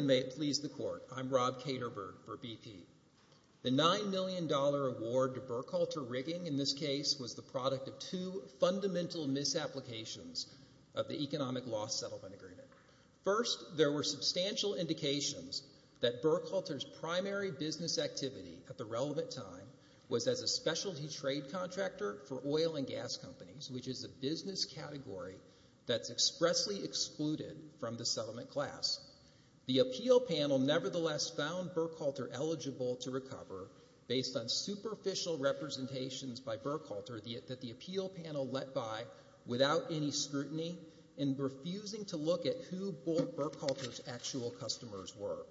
May it please the Court, I'm Rob Katerberg for BP. The $9 million award to Burkhalter Rigging in this case was the product of two fundamental misapplications of the Economic Loss Settlement Agreement. First, there were substantial indications that Burkhalter's primary business activity at the relevant time was as a specialty trade contractor for oil and gas companies, which is a business category that's expressly excluded from the settlement class. The appeal panel nevertheless found Burkhalter eligible to recover based on superficial representations by Burkhalter that the appeal panel let by without any scrutiny and refusing to look at who both Burkhalter's actual customers were.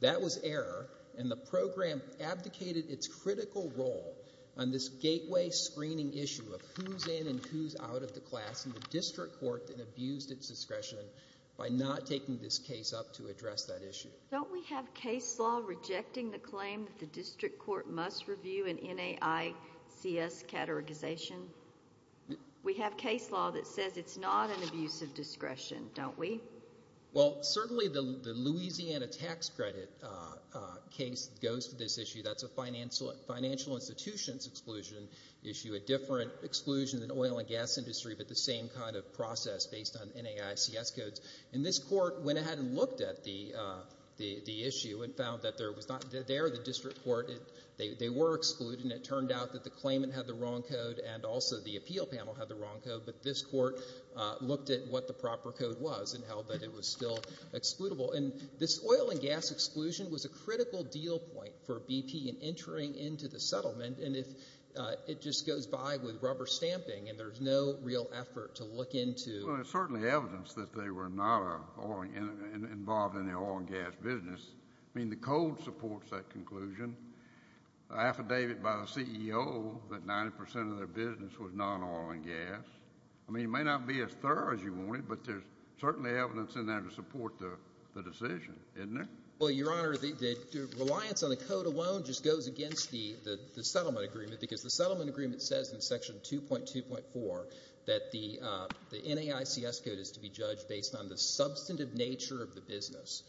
That was error and the program abdicated its critical role on this gateway screening issue of who's in and who's out of the class in the district court that abused its discretion by not taking this case up to address that issue. Don't we have case law rejecting the claim that the district court must review an NAICS categorization? We have case law that says it's not an abuse of discretion, don't we? Well, certainly the Louisiana tax credit case goes to this issue. That's a financial institution's exclusion issue. A different exclusion than oil and gas industry, but the same kind of process based on NAICS codes. And this court went ahead and looked at the issue and found that there was not, there the district court, they were excluded and it turned out that the claimant had the wrong code and also the appeal panel had the wrong code, but this court looked at what the proper code was and held that it was still excludable. And this oil and gas exclusion was a critical deal point for BP in entering into the settlement and if it just goes by with rubber stamping and there's no real effort to look into. Well, there's certainly evidence that they were not involved in the oil and gas business. I mean, the code supports that conclusion. Affidavit by the CEO that 90% of their business was non-oil and gas. I mean, it may not be as thorough as you want it, but there's certainly evidence in there to support the decision, isn't there? Well, Your Honor, the reliance on the code alone just goes against the settlement agreement because the settlement agreement says in Section 2.2.4 that the NAICS code is to be judged based on the substantive nature of the business.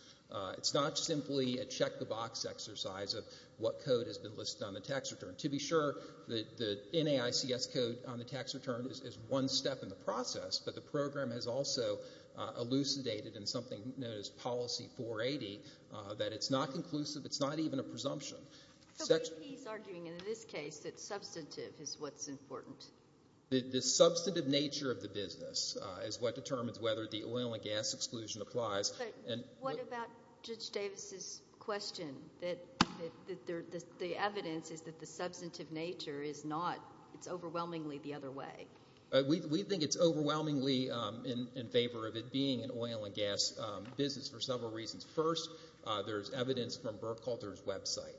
It's not simply a check the box exercise of what code has been listed on the tax return. To be sure, the NAICS code on the tax return is one step in the process, but the program has also elucidated in something known as Policy 480 that it's not conclusive. It's not even a presumption. So BP is arguing in this case that substantive is what's important? The substantive nature of the business is what determines whether the oil and gas exclusion applies. But what about Judge Davis's question that the evidence is that the substantive nature is not, it's overwhelmingly the other way? We think it's overwhelmingly in favor of it being an oil and gas business for several reasons. First, there's evidence from Burkhalter's website,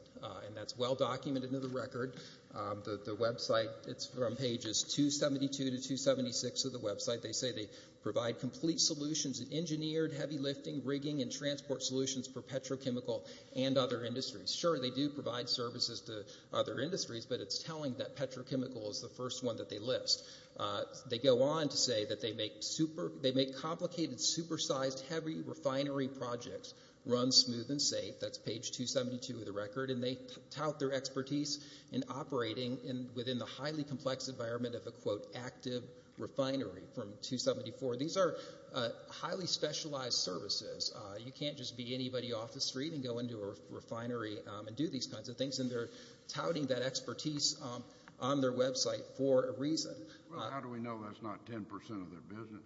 and that's well documented in the record. The website, it's from pages 272 to 276 of the website. They say they provide complete solutions in engineered heavy lifting, rigging, and transport solutions for petrochemical and other industries. Sure, they do provide services to other industries, but it's telling that petrochemical is the They go on to say that they make complicated, supersized, heavy refinery projects run smooth and safe. That's page 272 of the record, and they tout their expertise in operating within the highly complex environment of a, quote, active refinery from 274. These are highly specialized services. You can't just be anybody off the street and go into a refinery and do these kinds of things, and they're touting that expertise on their website for a reason. Well, how do we know that's not 10% of their business?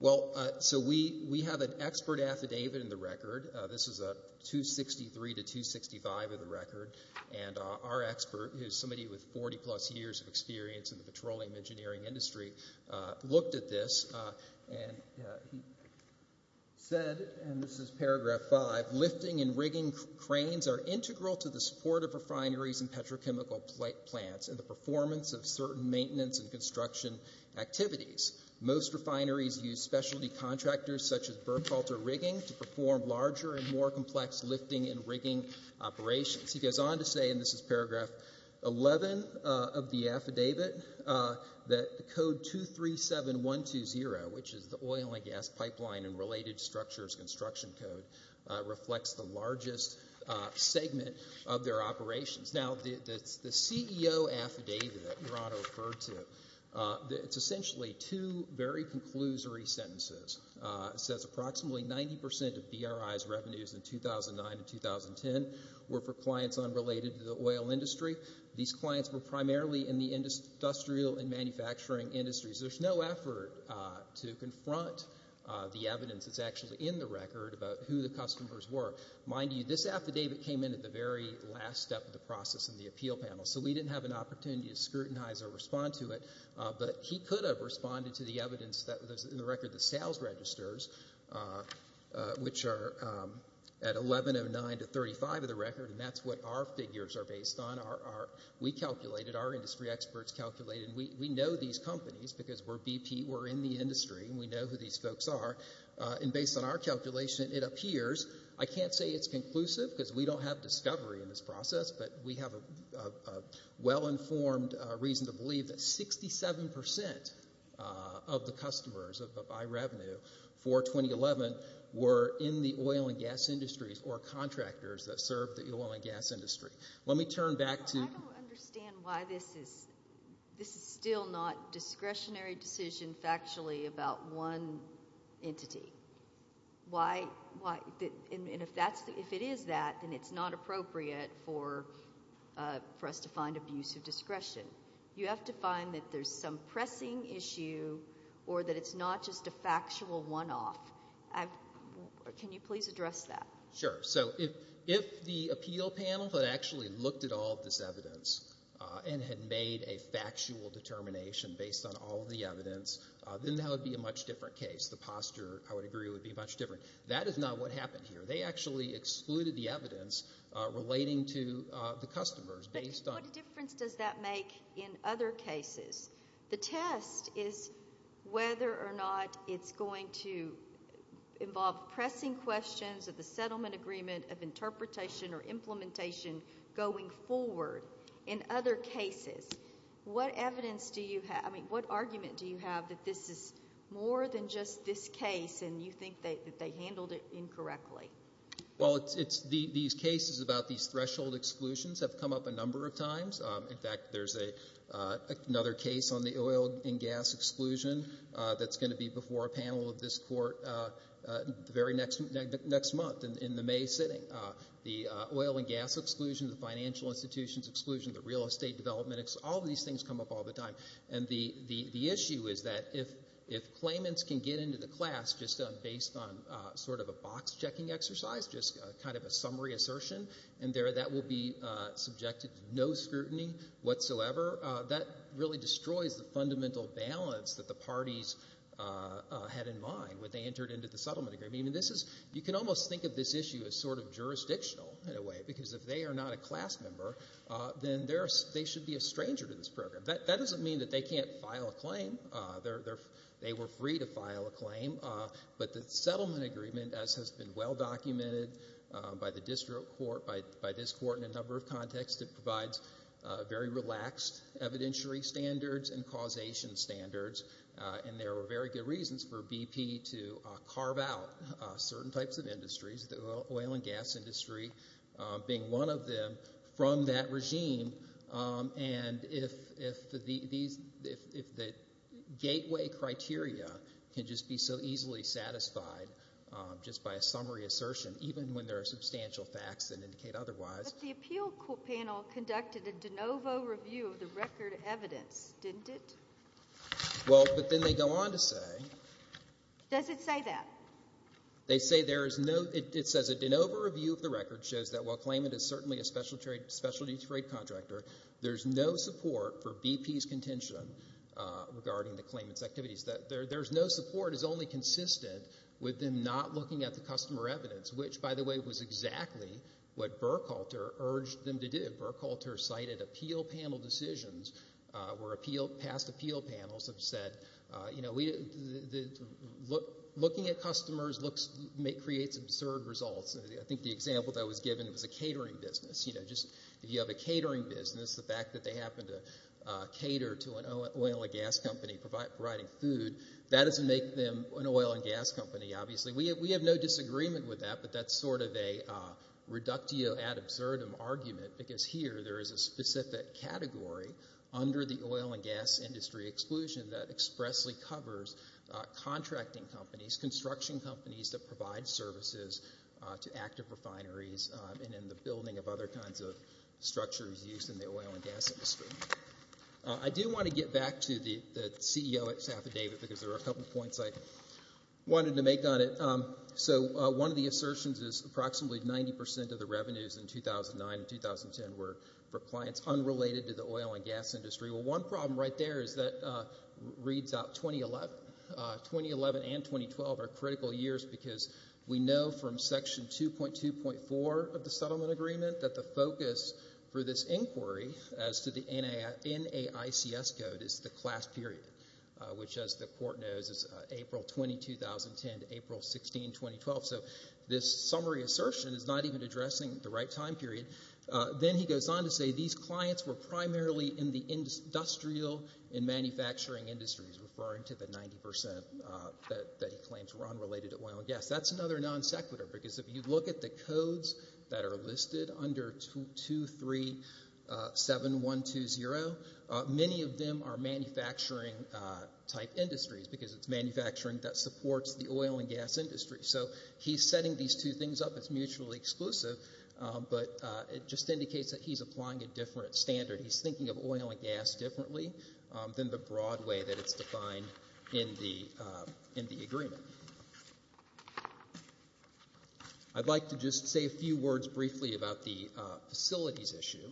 Well, so we have an expert affidavit in the record. This is 263 to 265 of the record, and our expert, who's somebody with 40-plus years of experience in the petroleum engineering industry, looked at this, and he said, and He goes on to say, and this is paragraph 11 of the affidavit, that code 237120, which is the oil and gas pipeline and related structures construction code, reflects the largest segment of their operations. Now, the CEO affidavit that Murano referred to, it's essentially two very conclusory sentences. It says approximately 90% of BRI's revenues in 2009 and 2010 were for clients unrelated to the oil industry. These clients were primarily in the industrial and manufacturing industries. There's no effort to confront the evidence that's actually in the record about who the customers were. Mind you, this affidavit came in at the very last step of the process in the appeal panel, so we didn't have an opportunity to scrutinize or respond to it, but he could have responded to the evidence that was in the record, the sales registers, which are at 1109 to 35 of the record, and that's what our figures are based on. We calculated, our industry experts calculated, and we know these companies because we're BP, we're in the industry, and we know who these folks are, and based on our calculation, it appears, I can't say it's conclusive because we don't have discovery in this process, but we have a well-informed reason to believe that 67% of the customers of iRevenue for 2011 were in the oil and gas industries or contractors that served the oil and gas industry. Let me turn back to- I don't understand why this is still not discretionary decision factually about one entity. Why, and if it is that, then it's not appropriate for us to find abuse of discretion. You have to find that there's some pressing issue or that it's not just a factual one-off. Can you please address that? Sure. So, if the appeal panel had actually looked at all of this evidence and had made a factual determination based on all of the evidence, then that would be a much different case. The posture, I would agree, would be much different. That is not what happened here. They actually excluded the evidence relating to the customers based on- But what difference does that make in other cases? The test is whether or not it's going to involve pressing questions of the settlement agreement of interpretation or implementation going forward in other cases. What evidence do you have- I mean, what argument do you have that this is more than just this case and you think that they handled it incorrectly? Well, it's- these cases about these threshold exclusions have come up a number of times. In fact, there's another case on the oil and gas exclusion that's going to be before a panel of this court the very next month in the May sitting. The oil and gas exclusion, the financial institutions exclusion, the real estate development all of these things come up all the time. And the issue is that if claimants can get into the class just based on sort of a box checking exercise, just kind of a summary assertion, and that will be subjected to no scrutiny whatsoever, that really destroys the fundamental balance that the parties had in mind when they entered into the settlement agreement. I mean, this is- you can almost think of this issue as sort of jurisdictional in a way because if they are not a class member, then they should be a stranger to this program. That doesn't mean that they can't file a claim. They were free to file a claim. But the settlement agreement, as has been well documented by the district court, by this court in a number of contexts, it provides very relaxed evidentiary standards and causation standards and there are very good reasons for BP to carve out certain types of industries, the oil and gas industry being one of them, from that regime. And if the gateway criteria can just be so easily satisfied just by a summary assertion, even when there are substantial facts that indicate otherwise- But the appeal panel conducted a de novo review of the record evidence, didn't it? Well, but then they go on to say- Does it say that? They say there is no- it says a de novo review of the record shows that while Klayman is certainly a specialty trade contractor, there is no support for BP's contention regarding the Klayman's activities. There's no support. It's only consistent with them not looking at the customer evidence, which, by the way, was exactly what Burkhalter urged them to do. Burkhalter cited appeal panel decisions where past appeal panels have said, you know, looking at customers creates absurd results. I think the example that was given was a catering business. You know, just if you have a catering business, the fact that they happen to cater to an oil and gas company providing food, that doesn't make them an oil and gas company, obviously. We have no disagreement with that, but that's sort of a reductio ad absurdum argument because here there is a specific category under the oil and gas industry exclusion that expressly covers contracting companies, construction companies that provide services to active refineries and in the building of other kinds of structures used in the oil and gas industry. I do want to get back to the CEO at Safa David because there are a couple points I wanted to make on it. So one of the assertions is approximately 90% of the revenues in 2009 and 2010 were for clients unrelated to the oil and gas industry. One problem right there is that reads out 2011 and 2012 are critical years because we know from section 2.2.4 of the settlement agreement that the focus for this inquiry as to the NAICS code is the class period, which as the court knows is April 20, 2010 to April 16, 2012. So this summary assertion is not even addressing the right time period. Then he goes on to say these clients were primarily in the industrial and manufacturing industries referring to the 90% that he claims were unrelated to oil and gas. That's another non sequitur because if you look at the codes that are listed under 2.3.7.120, many of them are manufacturing type industries because it's manufacturing that supports the oil and gas industry. So he's setting these two things up as mutually exclusive, but it just indicates that he's applying a different standard. He's thinking of oil and gas differently than the broad way that it's defined in the agreement. I'd like to just say a few words briefly about the facilities issue.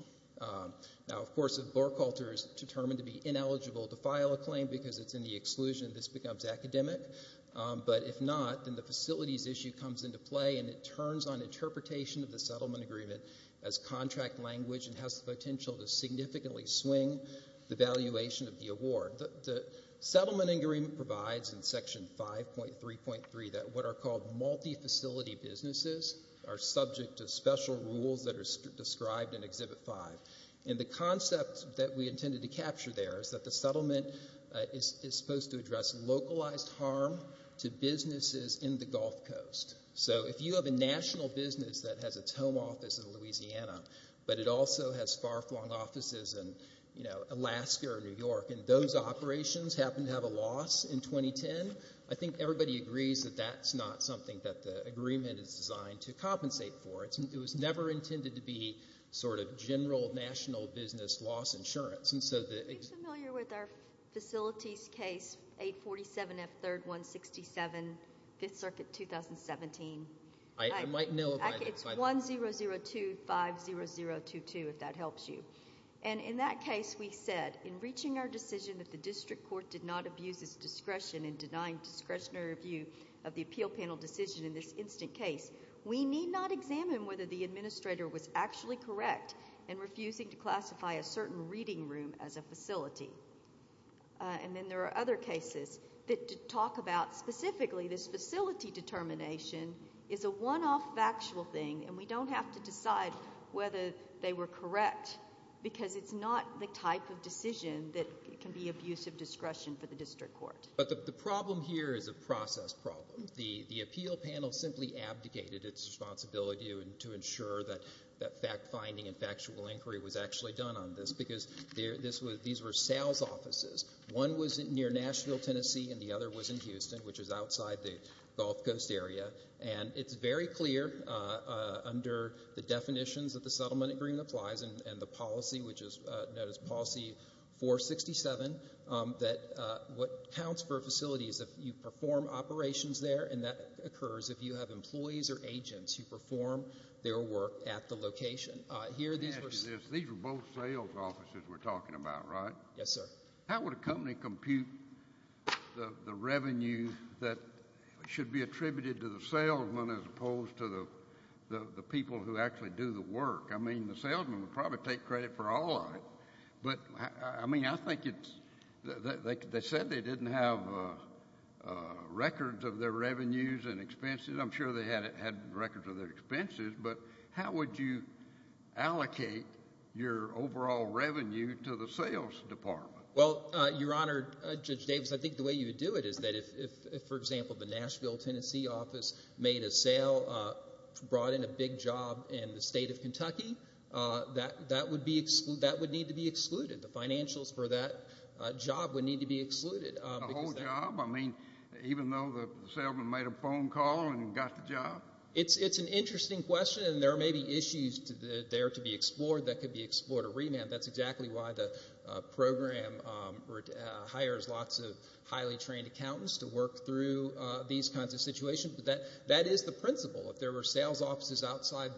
Now, of course, if Borkhalter is determined to be ineligible to file a claim because it's in the exclusion, this becomes academic, but if not, then the facilities issue comes into play and it turns on interpretation of the settlement agreement as contract language and has the potential to significantly swing the valuation of the award. The settlement agreement provides in Section 5.3.3 that what are called multifacility businesses are subject to special rules that are described in Exhibit 5. And the concept that we intended to capture there is that the settlement is supposed to address localized harm to businesses in the Gulf Coast. So if you have a national business that has its home office in Louisiana, but it also has far-flung offices in, you know, Alaska or New York, and those operations happen to have a loss in 2010, I think everybody agrees that that's not something that the agreement is designed to compensate for. It was never intended to be sort of general national business loss insurance. Are you familiar with our facilities case, 847F3-167, 5th Circuit, 2017? I might know about it. It's 100250022, if that helps you. And in that case, we said, in reaching our decision that the district court did not abuse its discretion in denying discretionary review of the appeal panel decision in this instant case, we need not examine whether the administrator was actually correct in refusing to classify a certain reading room as a facility. And then there are other cases that talk about specifically this facility determination is a one-off factual thing, and we don't have to decide whether they were correct because it's not the type of decision that can be abuse of discretion for the district court. But the problem here is a process problem. The appeal panel simply abdicated its responsibility to ensure that fact-finding and factual inquiry was actually done on this because these were sales offices. One was near Nashville, Tennessee, and the other was in Houston, which is outside the Gulf Coast area. And it's very clear under the definitions that the settlement agreement applies and the policy, which is known as policy 467, that what counts for a facility is if you have employees or agents who perform their work at the location. These were both sales offices we're talking about, right? Yes, sir. How would a company compute the revenue that should be attributed to the salesman as opposed to the people who actually do the work? I mean, the salesman would probably take credit for all of it. But, I mean, I think they said they didn't have records of their revenues and expenses. I'm sure they had records of their expenses. But how would you allocate your overall revenue to the sales department? Well, Your Honor, Judge Davis, I think the way you would do it is that if, for example, the Nashville, Tennessee office made a sale, brought in a big job in the state of Kentucky, that would need to be excluded. The financials for that job would need to be excluded. The whole job? I mean, even though the salesman made a phone call and got the job? It's an interesting question. And there may be issues there to be explored that could be explored or remanded. That's exactly why the program hires lots of highly trained accountants to work through these kinds of situations. But that is the principle. If there were sales offices outside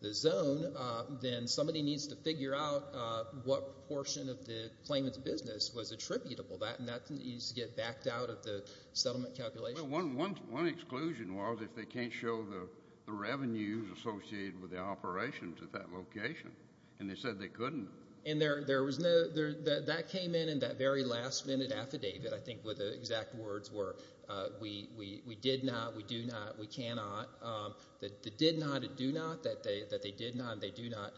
the zone, then somebody needs to figure out what portion of the claimant's business was attributable. That needs to get backed out of the settlement calculation. Well, one exclusion was if they can't show the revenues associated with the operations at that location. And they said they couldn't. And that came in in that very last-minute affidavit, I think, where the exact words were, we did not, we do not, we cannot. The did not and do not, that they did not and they do not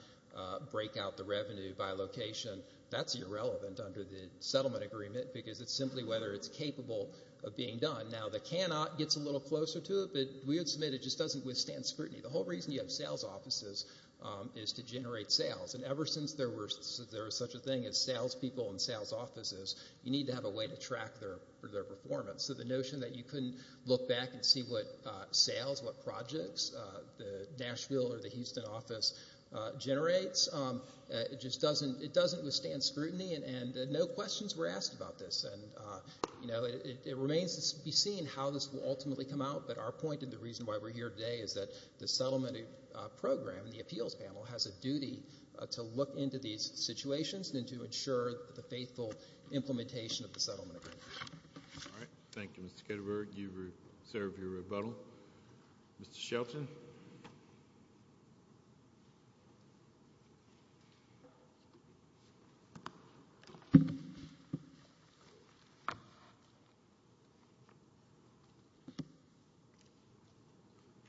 break out the revenue by location, that's irrelevant under the settlement agreement because it's simply whether it's capable of being done. Now, the cannot gets a little closer to it, but we would submit it just doesn't withstand scrutiny. The whole reason you have sales offices is to generate sales. And ever since there was such a thing as salespeople and sales offices, you need to have a their performance. So the notion that you couldn't look back and see what sales, what projects the Nashville or the Houston office generates, it just doesn't, it doesn't withstand scrutiny and no questions were asked about this. And, you know, it remains to be seen how this will ultimately come out. But our point and the reason why we're here today is that the settlement program, the appeals panel, has a duty to look into these situations and to ensure that the faithful implementation of the settlement agreement. All right. Thank you, Mr. Ketterberg. You serve your rebuttal. Mr. Shelton.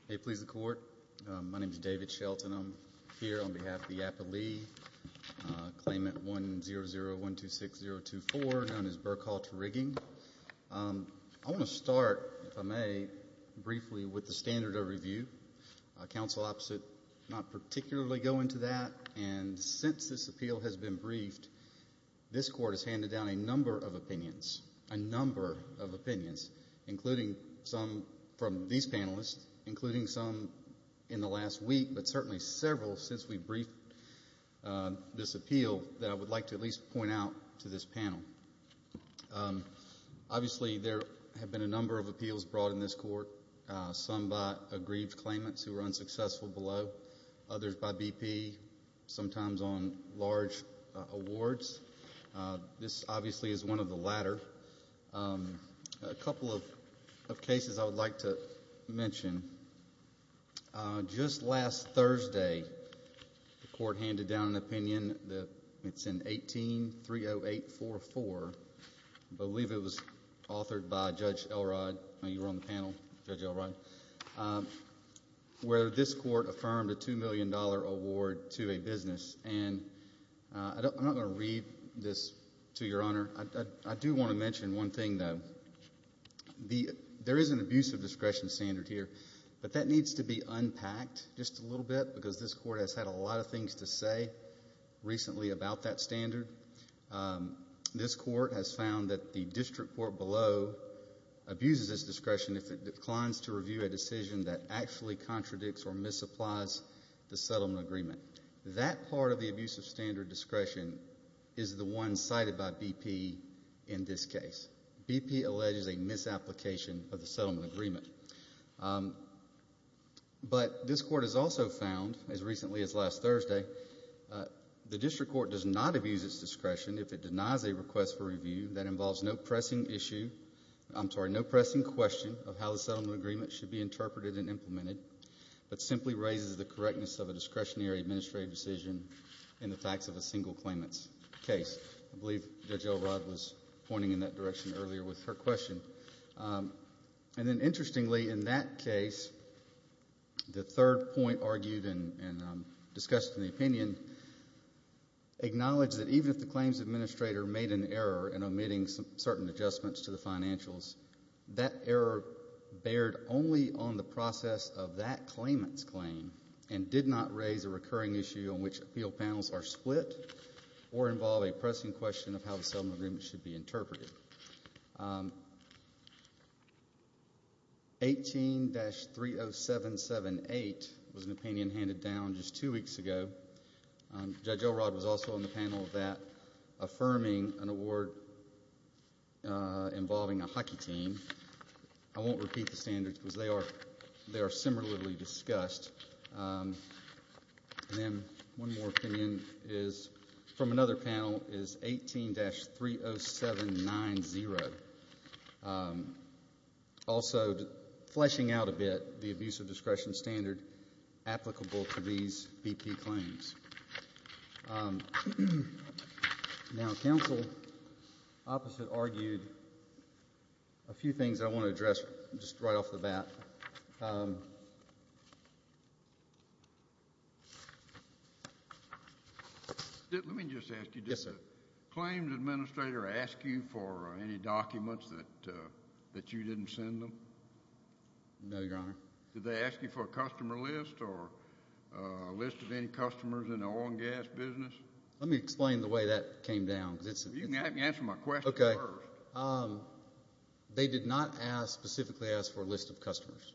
Hey, please, the court. My name is David Shelton. I'm here on behalf of the Appellee Claimant 100126024, known as Burkhalter Rigging. I want to start, if I may, briefly with the standard of review. Counsel opposite not particularly go into that. And since this appeal has been briefed, this court has handed down a number of opinions, a number of opinions, including some from these panelists, including some in the last week, but certainly several since we briefed this appeal that I would like to at least point out to this panel. Obviously, there have been a number of appeals brought in this court, some by aggrieved claimants who were unsuccessful below, others by BP, sometimes on large awards. This, obviously, is one of the latter. A couple of cases I would like to mention. Just last Thursday, the court handed down an opinion, it's in 18-30844, I believe it was authored by Judge Elrod, you were on the panel, Judge Elrod, where this court affirmed a $2 million award to a business. And I'm not going to read this to your honor. I do want to mention one thing, though. There is an abusive discretion standard here, but that needs to be unpacked just a little bit because this court has had a lot of things to say recently about that standard. This court has found that the district court below abuses this discretion if it declines to review a decision that actually contradicts or misapplies the settlement agreement. That part of the abusive standard discretion is the one cited by BP in this case. BP alleges a misapplication of the settlement agreement. But this court has also found, as recently as last Thursday, the district court does not abuse its discretion if it denies a request for review that involves no pressing issue, I'm sorry, no pressing question of how the settlement agreement should be interpreted and implemented, but simply raises the correctness of a discretionary administrative decision in the facts of a single claimant's case. I believe Judge Elrod was pointing in that direction earlier with her question. And then interestingly, in that case, the third point argued and discussed in the opinion acknowledged that even if the claims administrator made an error in omitting certain adjustments to the financials, that error bared only on the process of that claimant's claim and did not raise a recurring issue on which appeal panels are split or involve a pressing question of how the settlement agreement should be interpreted. 18-30778 was an opinion handed down just two weeks ago. Judge Elrod was also on the panel of that, affirming an award involving a hockey team. I won't repeat the standards because they are similarly discussed. And then one more opinion is from another panel is 18-30790, also fleshing out a bit the abuse of discretion standard applicable to these BP claims. Now, counsel opposite argued a few things I want to address just right off the bat. Let me just ask you. Yes, sir. Claims administrator ask you for any documents that you didn't send them? No, Your Honor. Did they ask you for a customer list or a list of any customers in the oil and gas business? Let me explain the way that came down. You can answer my question first. They did not specifically ask for a list of customers.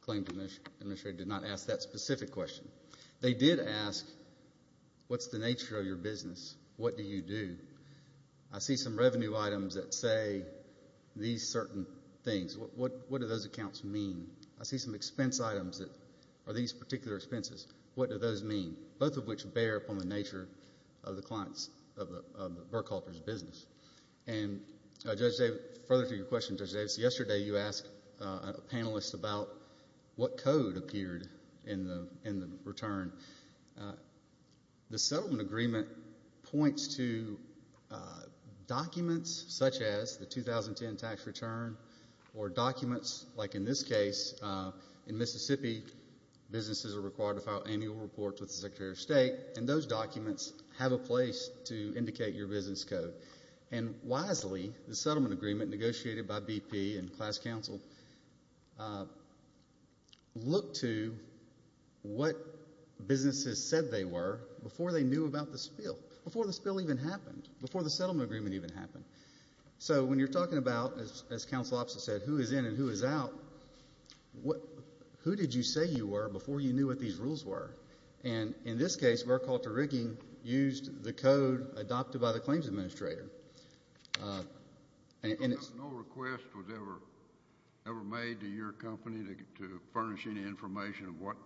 Claims administrator did not ask that specific question. They did ask, what's the nature of your business? What do you do? I see some revenue items that say these certain things. What do those accounts mean? I see some expense items that are these particular expenses. What do those mean? Both of which bear upon the nature of the clients of the Burke Halters business. And, Judge David, further to your question, Judge Davis, yesterday you asked a panelist about what code appeared in the return. The settlement agreement points to documents such as the 2010 tax return or documents, like in this case, in Mississippi, businesses are required to file annual reports with the Secretary of State, and those documents have a place to indicate your business code. And wisely, the settlement agreement negotiated by BP and class counsel looked to what businesses said they were before they knew about the spill, before the spill even happened, before the settlement agreement even happened. So when you're talking about, as counsel said, who is in and who is out, who did you say you were before you knew what these rules were? And in this case, Burke Halter Rigging used the code adopted by the claims administrator. No request was ever made to your company to furnish any information of what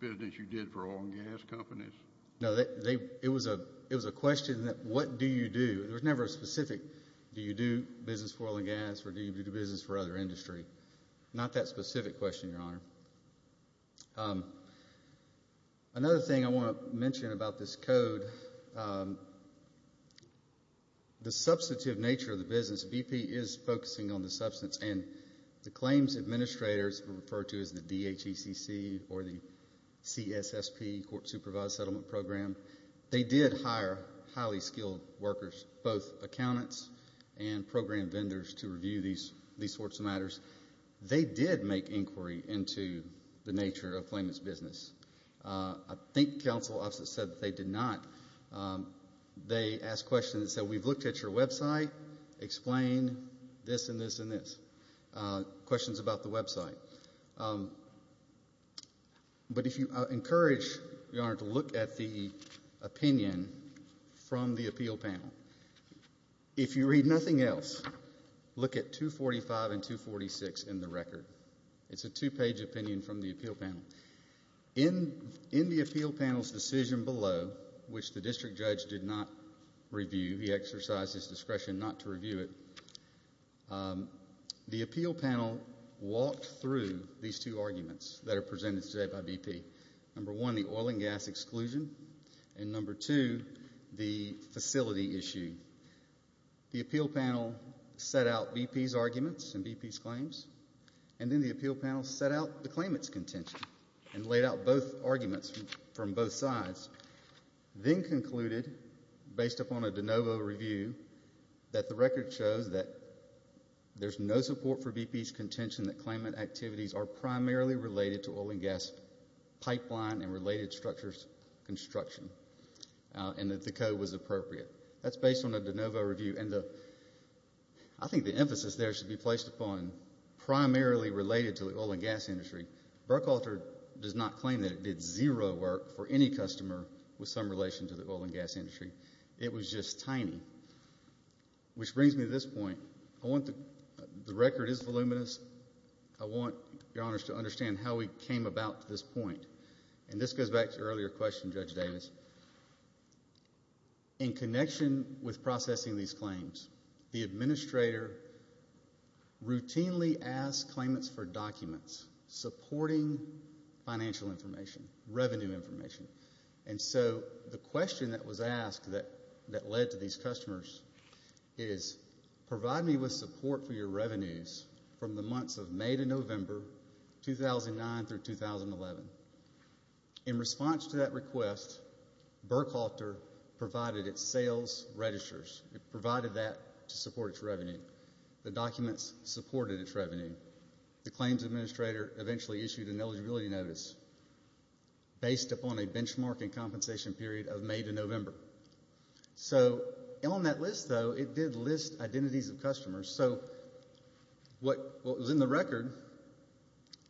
business you did for oil and gas companies? No, it was a question that, what do you do? There was never a specific, do you do business for oil and gas, or do you do business for other industry? Not that specific question, Your Honor. Another thing I want to mention about this code, the substantive nature of the business, BP is focusing on the substance, and the claims administrators were referred to as the DHECC, or the CSSP, Court Supervised Settlement Program. They did hire highly skilled workers, both accountants and program vendors, to review these sorts of matters. They did make inquiry into the nature of claimant's business. I think counsel said that they did not. They asked questions that said, we've looked at your website, explain this and this and this, questions about the website. But if you encourage, Your Honor, to look at the opinion from the appeal panel. If you read nothing else, look at 245 and 246 in the record. It's a two-page opinion from the appeal panel. In the appeal panel's decision below, which the district judge did not review, he exercised his discretion not to review it, the appeal panel walked through these two arguments that are presented today by BP. Number one, the oil and gas exclusion. And number two, the facility issue. The appeal panel set out BP's arguments and BP's claims. And then the appeal panel set out the claimant's contention and laid out both arguments from both sides. Then concluded, based upon a de novo review, that claimant activities are primarily related to oil and gas pipeline and related structures construction and that the code was appropriate. That's based on a de novo review. I think the emphasis there should be placed upon primarily related to the oil and gas industry. Burkhalter does not claim that it did zero work for any customer with some relation to the oil and gas industry. It was just tiny. Which brings me to this point. I want the record is voluminous. I want your honors to understand how we came about to this point. And this goes back to your earlier question, Judge Davis. In connection with processing these claims, the administrator routinely asked claimants for documents supporting financial information, revenue information. And so the question that was asked that led to these customers is provide me with support for your revenues from the months of May to November 2009 through 2011. In response to that request, Burkhalter provided its sales registers. It provided that to support its revenue. The documents supported its revenue. The claims administrator eventually issued an eligibility notice based upon a benchmarking compensation period of May to November. So on that list, though, it did list identities of customers. So what was in the record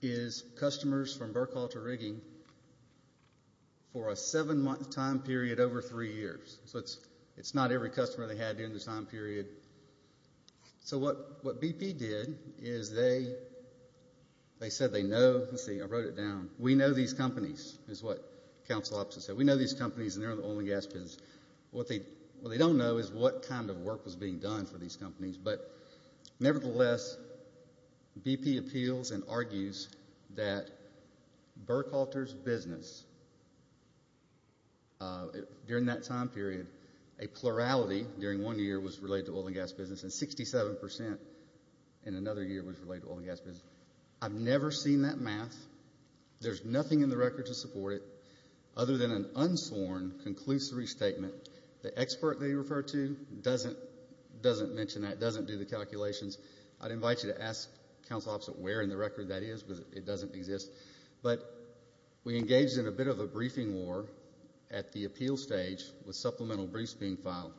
is customers from Burkhalter Rigging for a seven-month time period over three years. So it's not every customer they had during the time period. So what BP did is they said they know, let's see, I wrote it down. We know these companies is what counsel officer said. We know these companies and they're in the oil and gas business. What they don't know is what kind of work was being done for these companies. But nevertheless, BP appeals and argues that Burkhalter's business during that time period, a plurality during one year was related to oil and gas business, and 67% in another year was related to oil and gas business. I've never seen that math. There's nothing in the record to support it other than an unsworn conclusory statement. The expert they refer to doesn't mention that, doesn't do the calculations. I'd invite you to ask counsel officer where in the record that is, but it doesn't exist. But we engaged in a bit of a briefing war at the appeal stage with supplemental briefs being filed.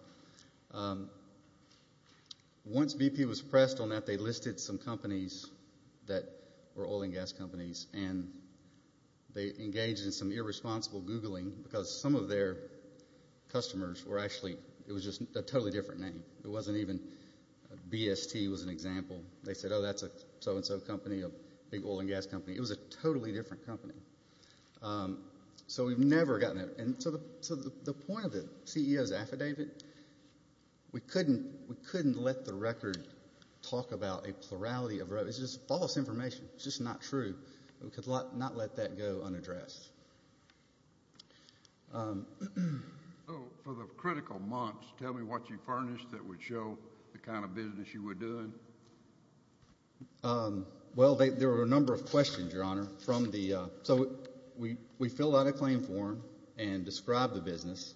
Once BP was pressed on that, they listed some companies that were oil and gas companies, and they engaged in some irresponsible Googling because some of their customers were actually, it was just a totally different name. It wasn't even, BST was an example. They said, oh, that's a so-and-so company, a big oil and gas company. It was a totally different company. So we've never gotten there. And so the point of the CEO's affidavit, we couldn't let the record talk about a plurality of, it's just false information. It's just not true. We could not let that go unaddressed. So for the critical months, tell me what you furnished that would show the kind of business you were doing. Well, there were a number of questions, Your Honor, from the, so we filled out a claim form and described the business.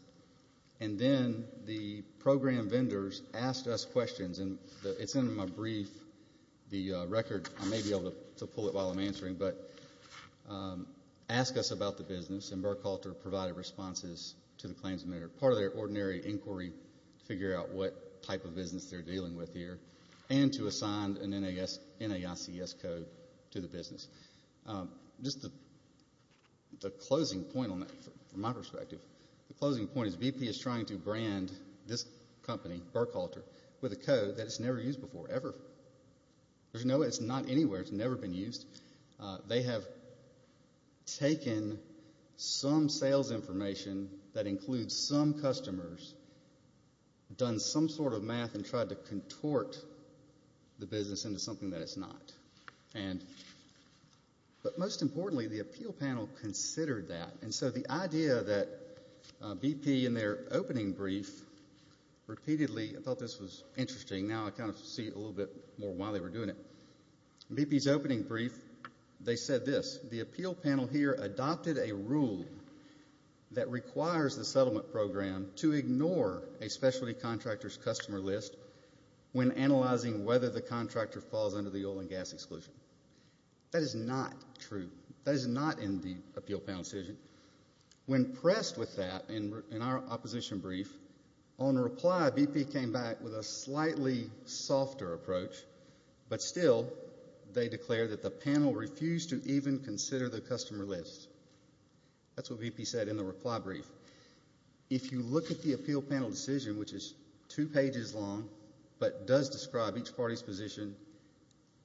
And then the program vendors asked us questions, and it's in my brief, the record. I may be able to pull it while I'm answering, but ask us about the business, and Burkhalter provided responses to the claims. And they're part of their ordinary inquiry to figure out what type of business they're dealing with here and to assign an NAICS code to the business. Just the closing point on that, from my perspective, the closing point is BP is trying to brand this company, Burkhalter, with a code that's never used before, ever. There's no, it's not anywhere. It's never been used. They have taken some sales information that includes some customers, done some sort of math, and tried to contort the business into something that it's not. But most importantly, the appeal panel considered that. And so the idea that BP, in their opening brief, repeatedly, I thought this was interesting. Now I kind of see it a little bit more why they were doing it. BP's opening brief, they said this. The appeal panel here adopted a rule that requires the settlement program to ignore a specialty contractor's customer list when analyzing whether the contractor falls under the oil and gas exclusion. That is not true. That is not in the appeal panel decision. When pressed with that in our opposition brief, on reply, BP came back with a slightly softer approach, but still, they declared that the panel refused to even consider the customer list. That's what BP said in the reply brief. If you look at the appeal panel decision, which is two pages long, but does describe each party's position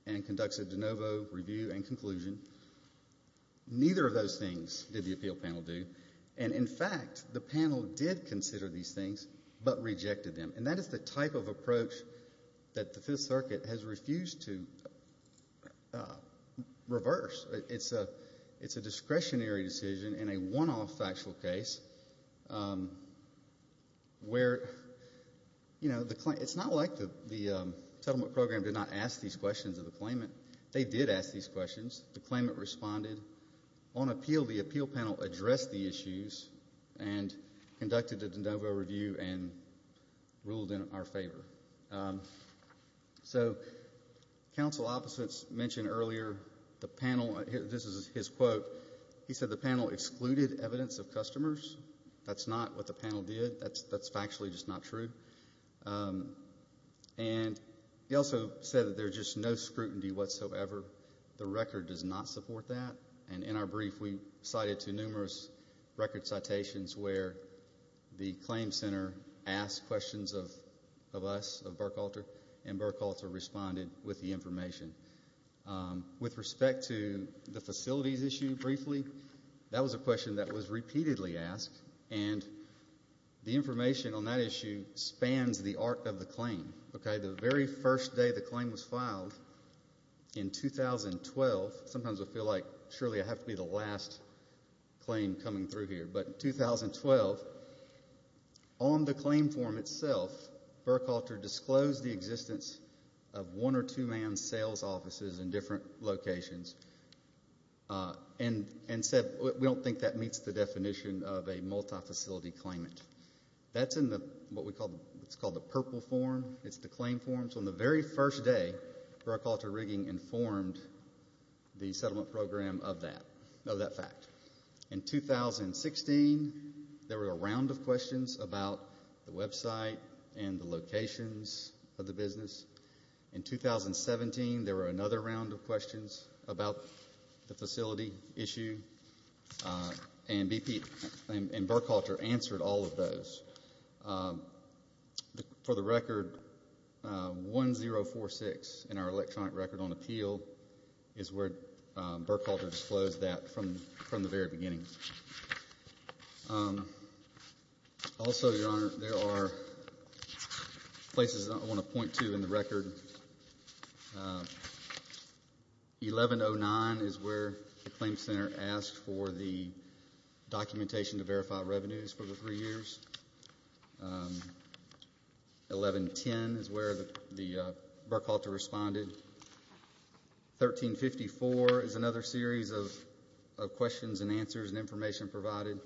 and conducts a de novo review and conclusion, neither of those things did the appeal panel do. And in fact, the panel did consider these things, but rejected them. That is the type of approach that the Fifth Circuit has refused to reverse. It's a discretionary decision in a one-off factual case where it's not like the settlement program did not ask these questions of the claimant. They did ask these questions. The claimant responded. On appeal, the appeal panel addressed the issues and conducted a de novo review and ruled in our favor. So, counsel opposites mentioned earlier, the panel, this is his quote, he said the panel excluded evidence of customers. That's not what the panel did. That's factually just not true. And he also said that there's just no scrutiny whatsoever. The record does not support that. And in our brief, we cited to numerous record citations where the claim center asked questions of us, of Burke Alter, and Burke Alter responded with the information. With respect to the facilities issue, briefly, that was a question that was repeatedly asked. And the information on that issue spans the arc of the claim. Okay, the very first day the claim was filed in 2012, sometimes I feel like surely I have to be the last claim coming through here, but in 2012, on the claim form itself, Burke Alter disclosed the existence of one or two man sales offices in different locations and said we don't think that meets the definition of a multi-facility claimant. That's in what's called the purple form. It's the claim form. So on the very first day, Burke Alter Rigging informed the settlement program of that fact. In 2016, there were a round of questions about the website and the locations of the business. In 2017, there were another round of questions about the facility issue, and Burke Alter answered all of those. For the record, 1046 in our electronic record on appeal is where Burke Alter disclosed that from the very beginning. Also, Your Honor, there are places I want to point to in the record. 1109 is where the claim center asked for the documentation to verify revenues for the three years. 1110 is where the Burke Alter responded. 1354 is another series of questions and answers and information provided.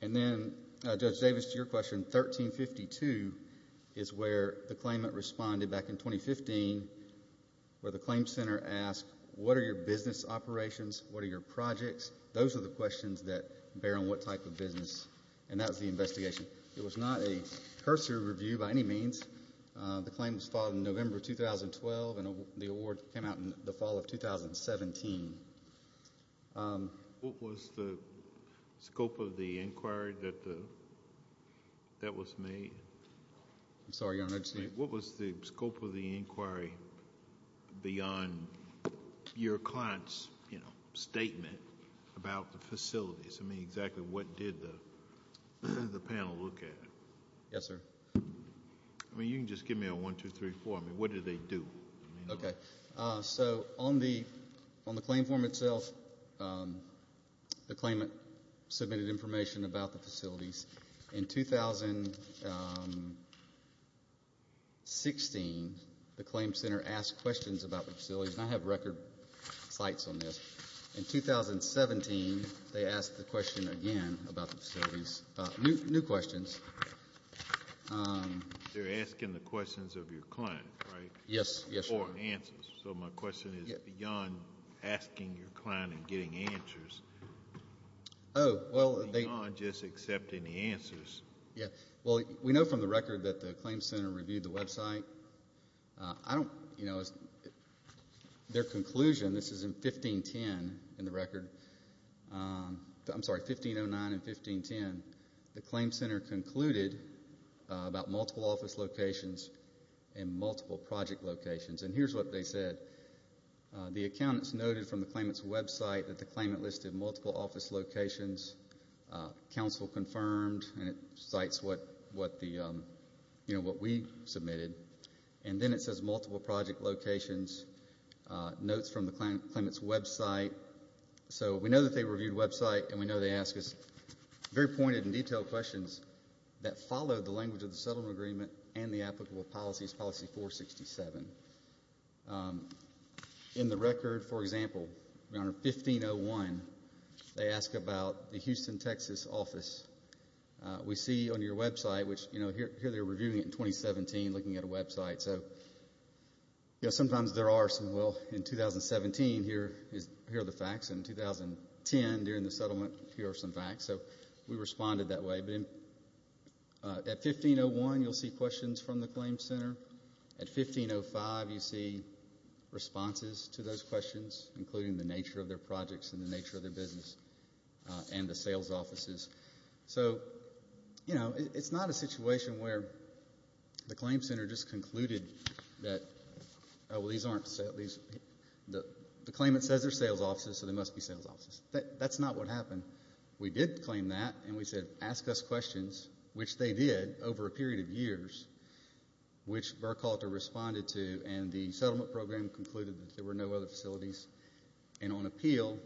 And then, Judge Davis, to your question, 1352 is where the claimant responded back in 2015 where the claim center asked what are your business operations, what are your projects? Those are the questions that bear on what type of business, and that was the investigation. It was not a cursory review by any means. The claim was filed in November 2012, and the award came out in the fall of 2017. What was the scope of the inquiry that was made? I'm sorry, Your Honor. What was the scope of the inquiry beyond your client's statement about the facilities? Exactly what did the panel look at? Yes, sir. You can just give me a one, two, three, four. What did they do? Okay. So on the claim form itself, the claimant submitted information about the facilities. In 2016, the claim center asked questions about the facilities. I have record sites on this. In 2017, they asked the question again about the facilities, new questions. They're asking the questions of your client, right? Yes, yes, Your Honor. Or answers. So my question is beyond asking your client and getting answers, beyond just accepting the answers. Yeah. Well, we know from the record that the claim center reviewed the website. I don't, you know, their conclusion, this is in 1510 in the record. I'm sorry, 1509 and 1510. The claim center concluded about multiple office locations and multiple project locations. And here's what they said. The accountants noted from the claimant's website that the claimant listed multiple office locations. Council confirmed. And it cites what the, you know, what we submitted. And then it says multiple project locations. Notes from the claimant's website. So we know that they reviewed website and we know they ask us very pointed and detailed questions that follow the language of the settlement agreement and the applicable policies, policy 467. Um, in the record, for example, Your Honor, 1501, they ask about the Houston, Texas office. We see on your website, which, you know, here they're reviewing it in 2017, looking at a website. So, you know, sometimes there are some, well, in 2017, here is, here are the facts. In 2010, during the settlement, here are some facts. So we responded that way. But at 1501, you'll see questions from the claim center. At 1505, you see responses to those questions, including the nature of their projects and the nature of their business and the sales offices. So, you know, it's not a situation where the claim center just concluded that, oh, well, these aren't, these, the claimant says they're sales offices, so they must be sales offices. That's not what happened. We did claim that, and we said, ask us questions, which they did over a period of years, which Burkhalter responded to, and the settlement program concluded that there were no other facilities. And on appeal,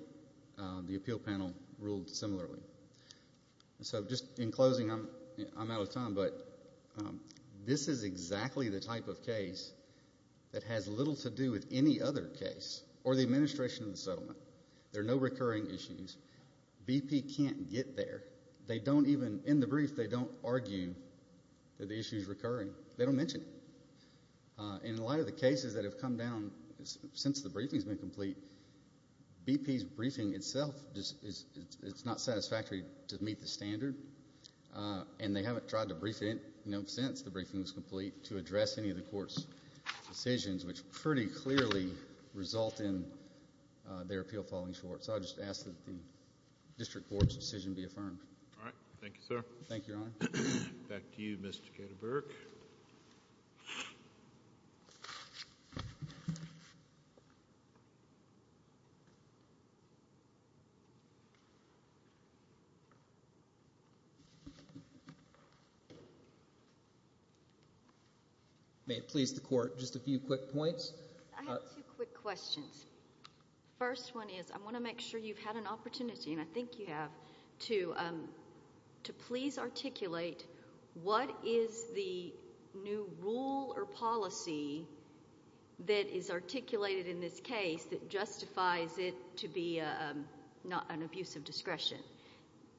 the appeal panel ruled similarly. So just in closing, I'm out of time, but this is exactly the type of case that has little There are no recurring issues. BP can't get there. They don't even, in the brief, they don't argue that the issue is recurring. They don't mention it. And a lot of the cases that have come down since the briefing's been complete, BP's briefing itself just is, it's not satisfactory to meet the standard, and they haven't tried to brief it, you know, since the briefing was complete to address any of the court's decisions, which pretty clearly result in their appeal falling short. So I'll just ask that the district court's decision be affirmed. All right. Thank you, sir. Thank you, Your Honor. Back to you, Mr. Ketterberg. May it please the court, just a few quick points. I have two quick questions. First one is, I want to make sure you've had an opportunity, and I think you have, to please articulate what is the new rule or policy that is articulated in this case that justifies it to be not an abuse of discretion.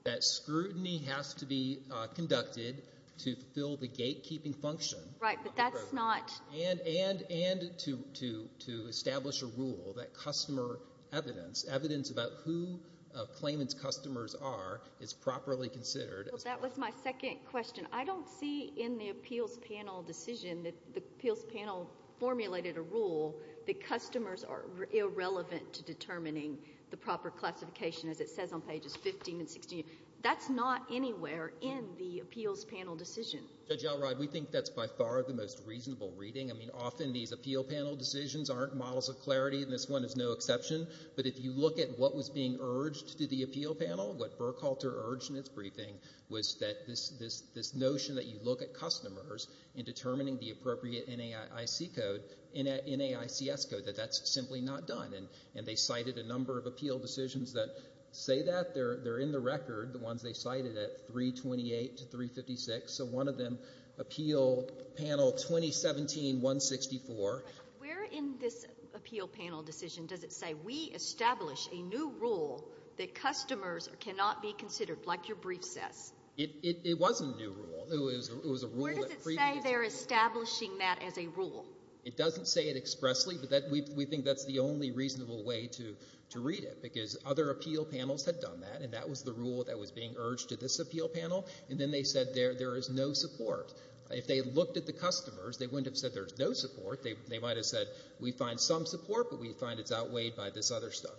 That scrutiny has to be conducted to fulfill the gatekeeping function. Right, but that's not And to establish a rule that customer evidence, evidence about who a claimant's customers are is properly considered. That was my second question. I don't see in the appeals panel decision that the appeals panel formulated a rule that customers are irrelevant to determining the proper classification, as it says on pages 15 and 16. That's not anywhere in the appeals panel decision. Judge Elrod, we think that's by far the most reasonable reading. I mean, often these appeal panel decisions aren't models of clarity, and this one is no exception. But if you look at what was being urged to the appeal panel, what Burkhalter urged in its briefing was that this notion that you look at customers in determining the appropriate NAIC code, NAICS code, that that's simply not done. And they cited a number of appeal decisions that say that. They're in the record, the ones they cited at 328 to 356. So one of them, appeal panel 2017-164. Where in this appeal panel decision does it say, we establish a new rule that customers cannot be considered, like your brief says? It wasn't a new rule. It was a rule that previously... Where does it say they're establishing that as a rule? It doesn't say it expressly, but we think that's the only reasonable way to read it, because other appeal panels had done that, and that was the rule that was being urged to this appeal panel. And then they said there is no support. If they had looked at the customers, they wouldn't have said there's no support. They might have said, we find some support, but we find it's outweighed by this other stuff.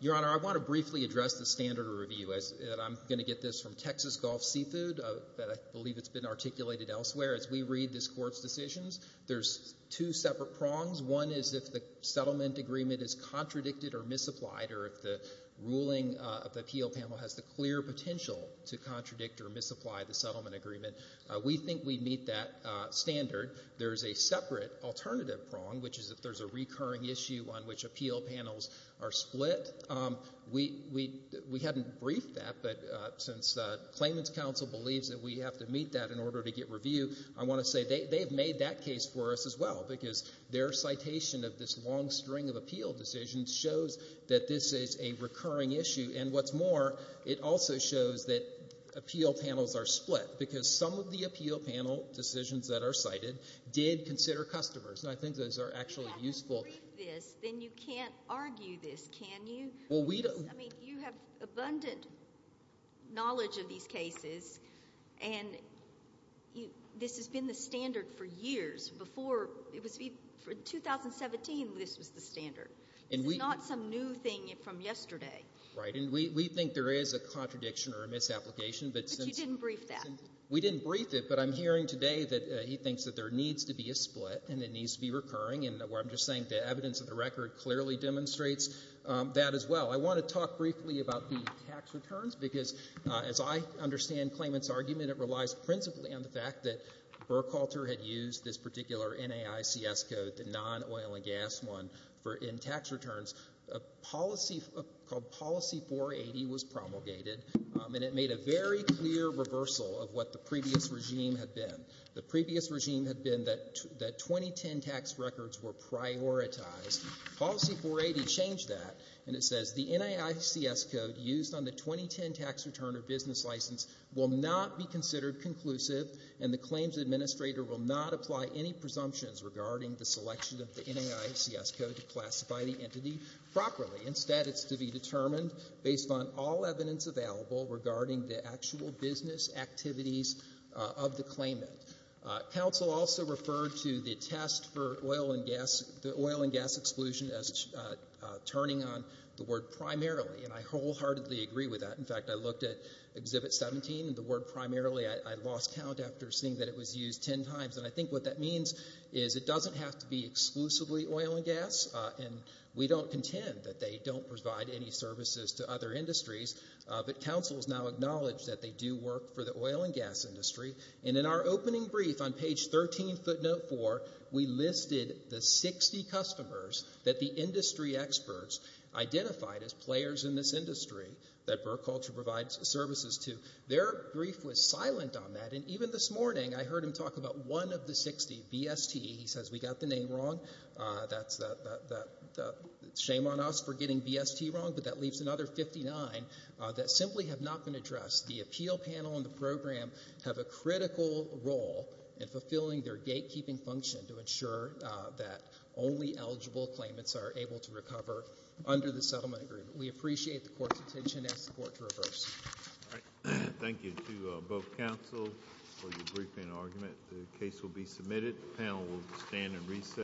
Your Honor, I want to briefly address the standard of review. I'm going to get this from Texas Gulf Seafood, that I believe it's been articulated elsewhere. As we read this Court's decisions, there's two separate prongs. One is if the settlement agreement is contradicted or misapplied, or if the ruling of the appeal panel has the clear potential to contradict or misapply the settlement agreement. We think we'd meet that standard. There's a separate alternative prong, which is if there's a recurring issue on which appeal panels are split. We hadn't briefed that, but since the Claimants Council believes that we have to meet that in order to get review, I want to say they have made that case for us as well, because their citation of this long string of appeal decisions shows that this is a recurring issue. And what's more, it also shows that appeal panels are split, because some of the appeal panel decisions that are cited did consider customers, and I think those are actually useful. If you didn't brief this, then you can't argue this, can you? I mean, you have abundant knowledge of these cases, and this has been the standard for years. For 2017, this was the standard. This is not some new thing from yesterday. Right, and we think there is a contradiction or a misapplication, but since— But you didn't brief that. We didn't brief it, but I'm hearing today that he thinks that there needs to be a split, and it needs to be recurring, and what I'm just saying, the evidence of the record clearly demonstrates that as well. I want to talk briefly about the tax returns, because as I understand Claimant's argument, it relies principally on the fact that Burkhalter had used this particular NAICS code, the non-oil and gas one, in tax returns. A policy called Policy 480 was promulgated, and it made a very clear reversal of what the previous regime had been. The previous regime had been that 2010 tax records were prioritized. Policy 480 changed that, and it says, the NAICS code used on the 2010 tax return or business license will not be considered conclusive, and the claims administrator will not apply any presumptions regarding the selection of the NAICS code to classify the entity properly. Instead, it's to be determined based on all evidence available regarding the actual business activities of the claimant. Council also referred to the test for oil and gas, the oil and gas exclusion as turning on the word primarily, and I wholeheartedly agree with that. In fact, I looked at Exhibit 17, and the word primarily, I lost count after seeing that it was used 10 times, and I think what that means is it doesn't have to be exclusively oil and gas, and we don't contend that they don't provide any services to other industries, but Council has now acknowledged that they do work for the oil and gas industry, and in our opening brief on page 13, footnote 4, we listed the 60 customers that the industry experts identified as players in this industry that BerkCulture provides services to. Their brief was silent on that, and even this morning, I heard him talk about one of the 60, BST. He says, we got the name wrong. That's a shame on us for getting BST wrong, but that leaves another 59 that simply have not been addressed. The appeal panel and the program have a critical role in fulfilling their gatekeeping function to ensure that only eligible claimants are able to recover under the settlement agreement. We appreciate the Court's attention and ask the Court to reverse. All right. Thank you to both Council for your briefing and argument. The case will be submitted. The panel will stand and recess.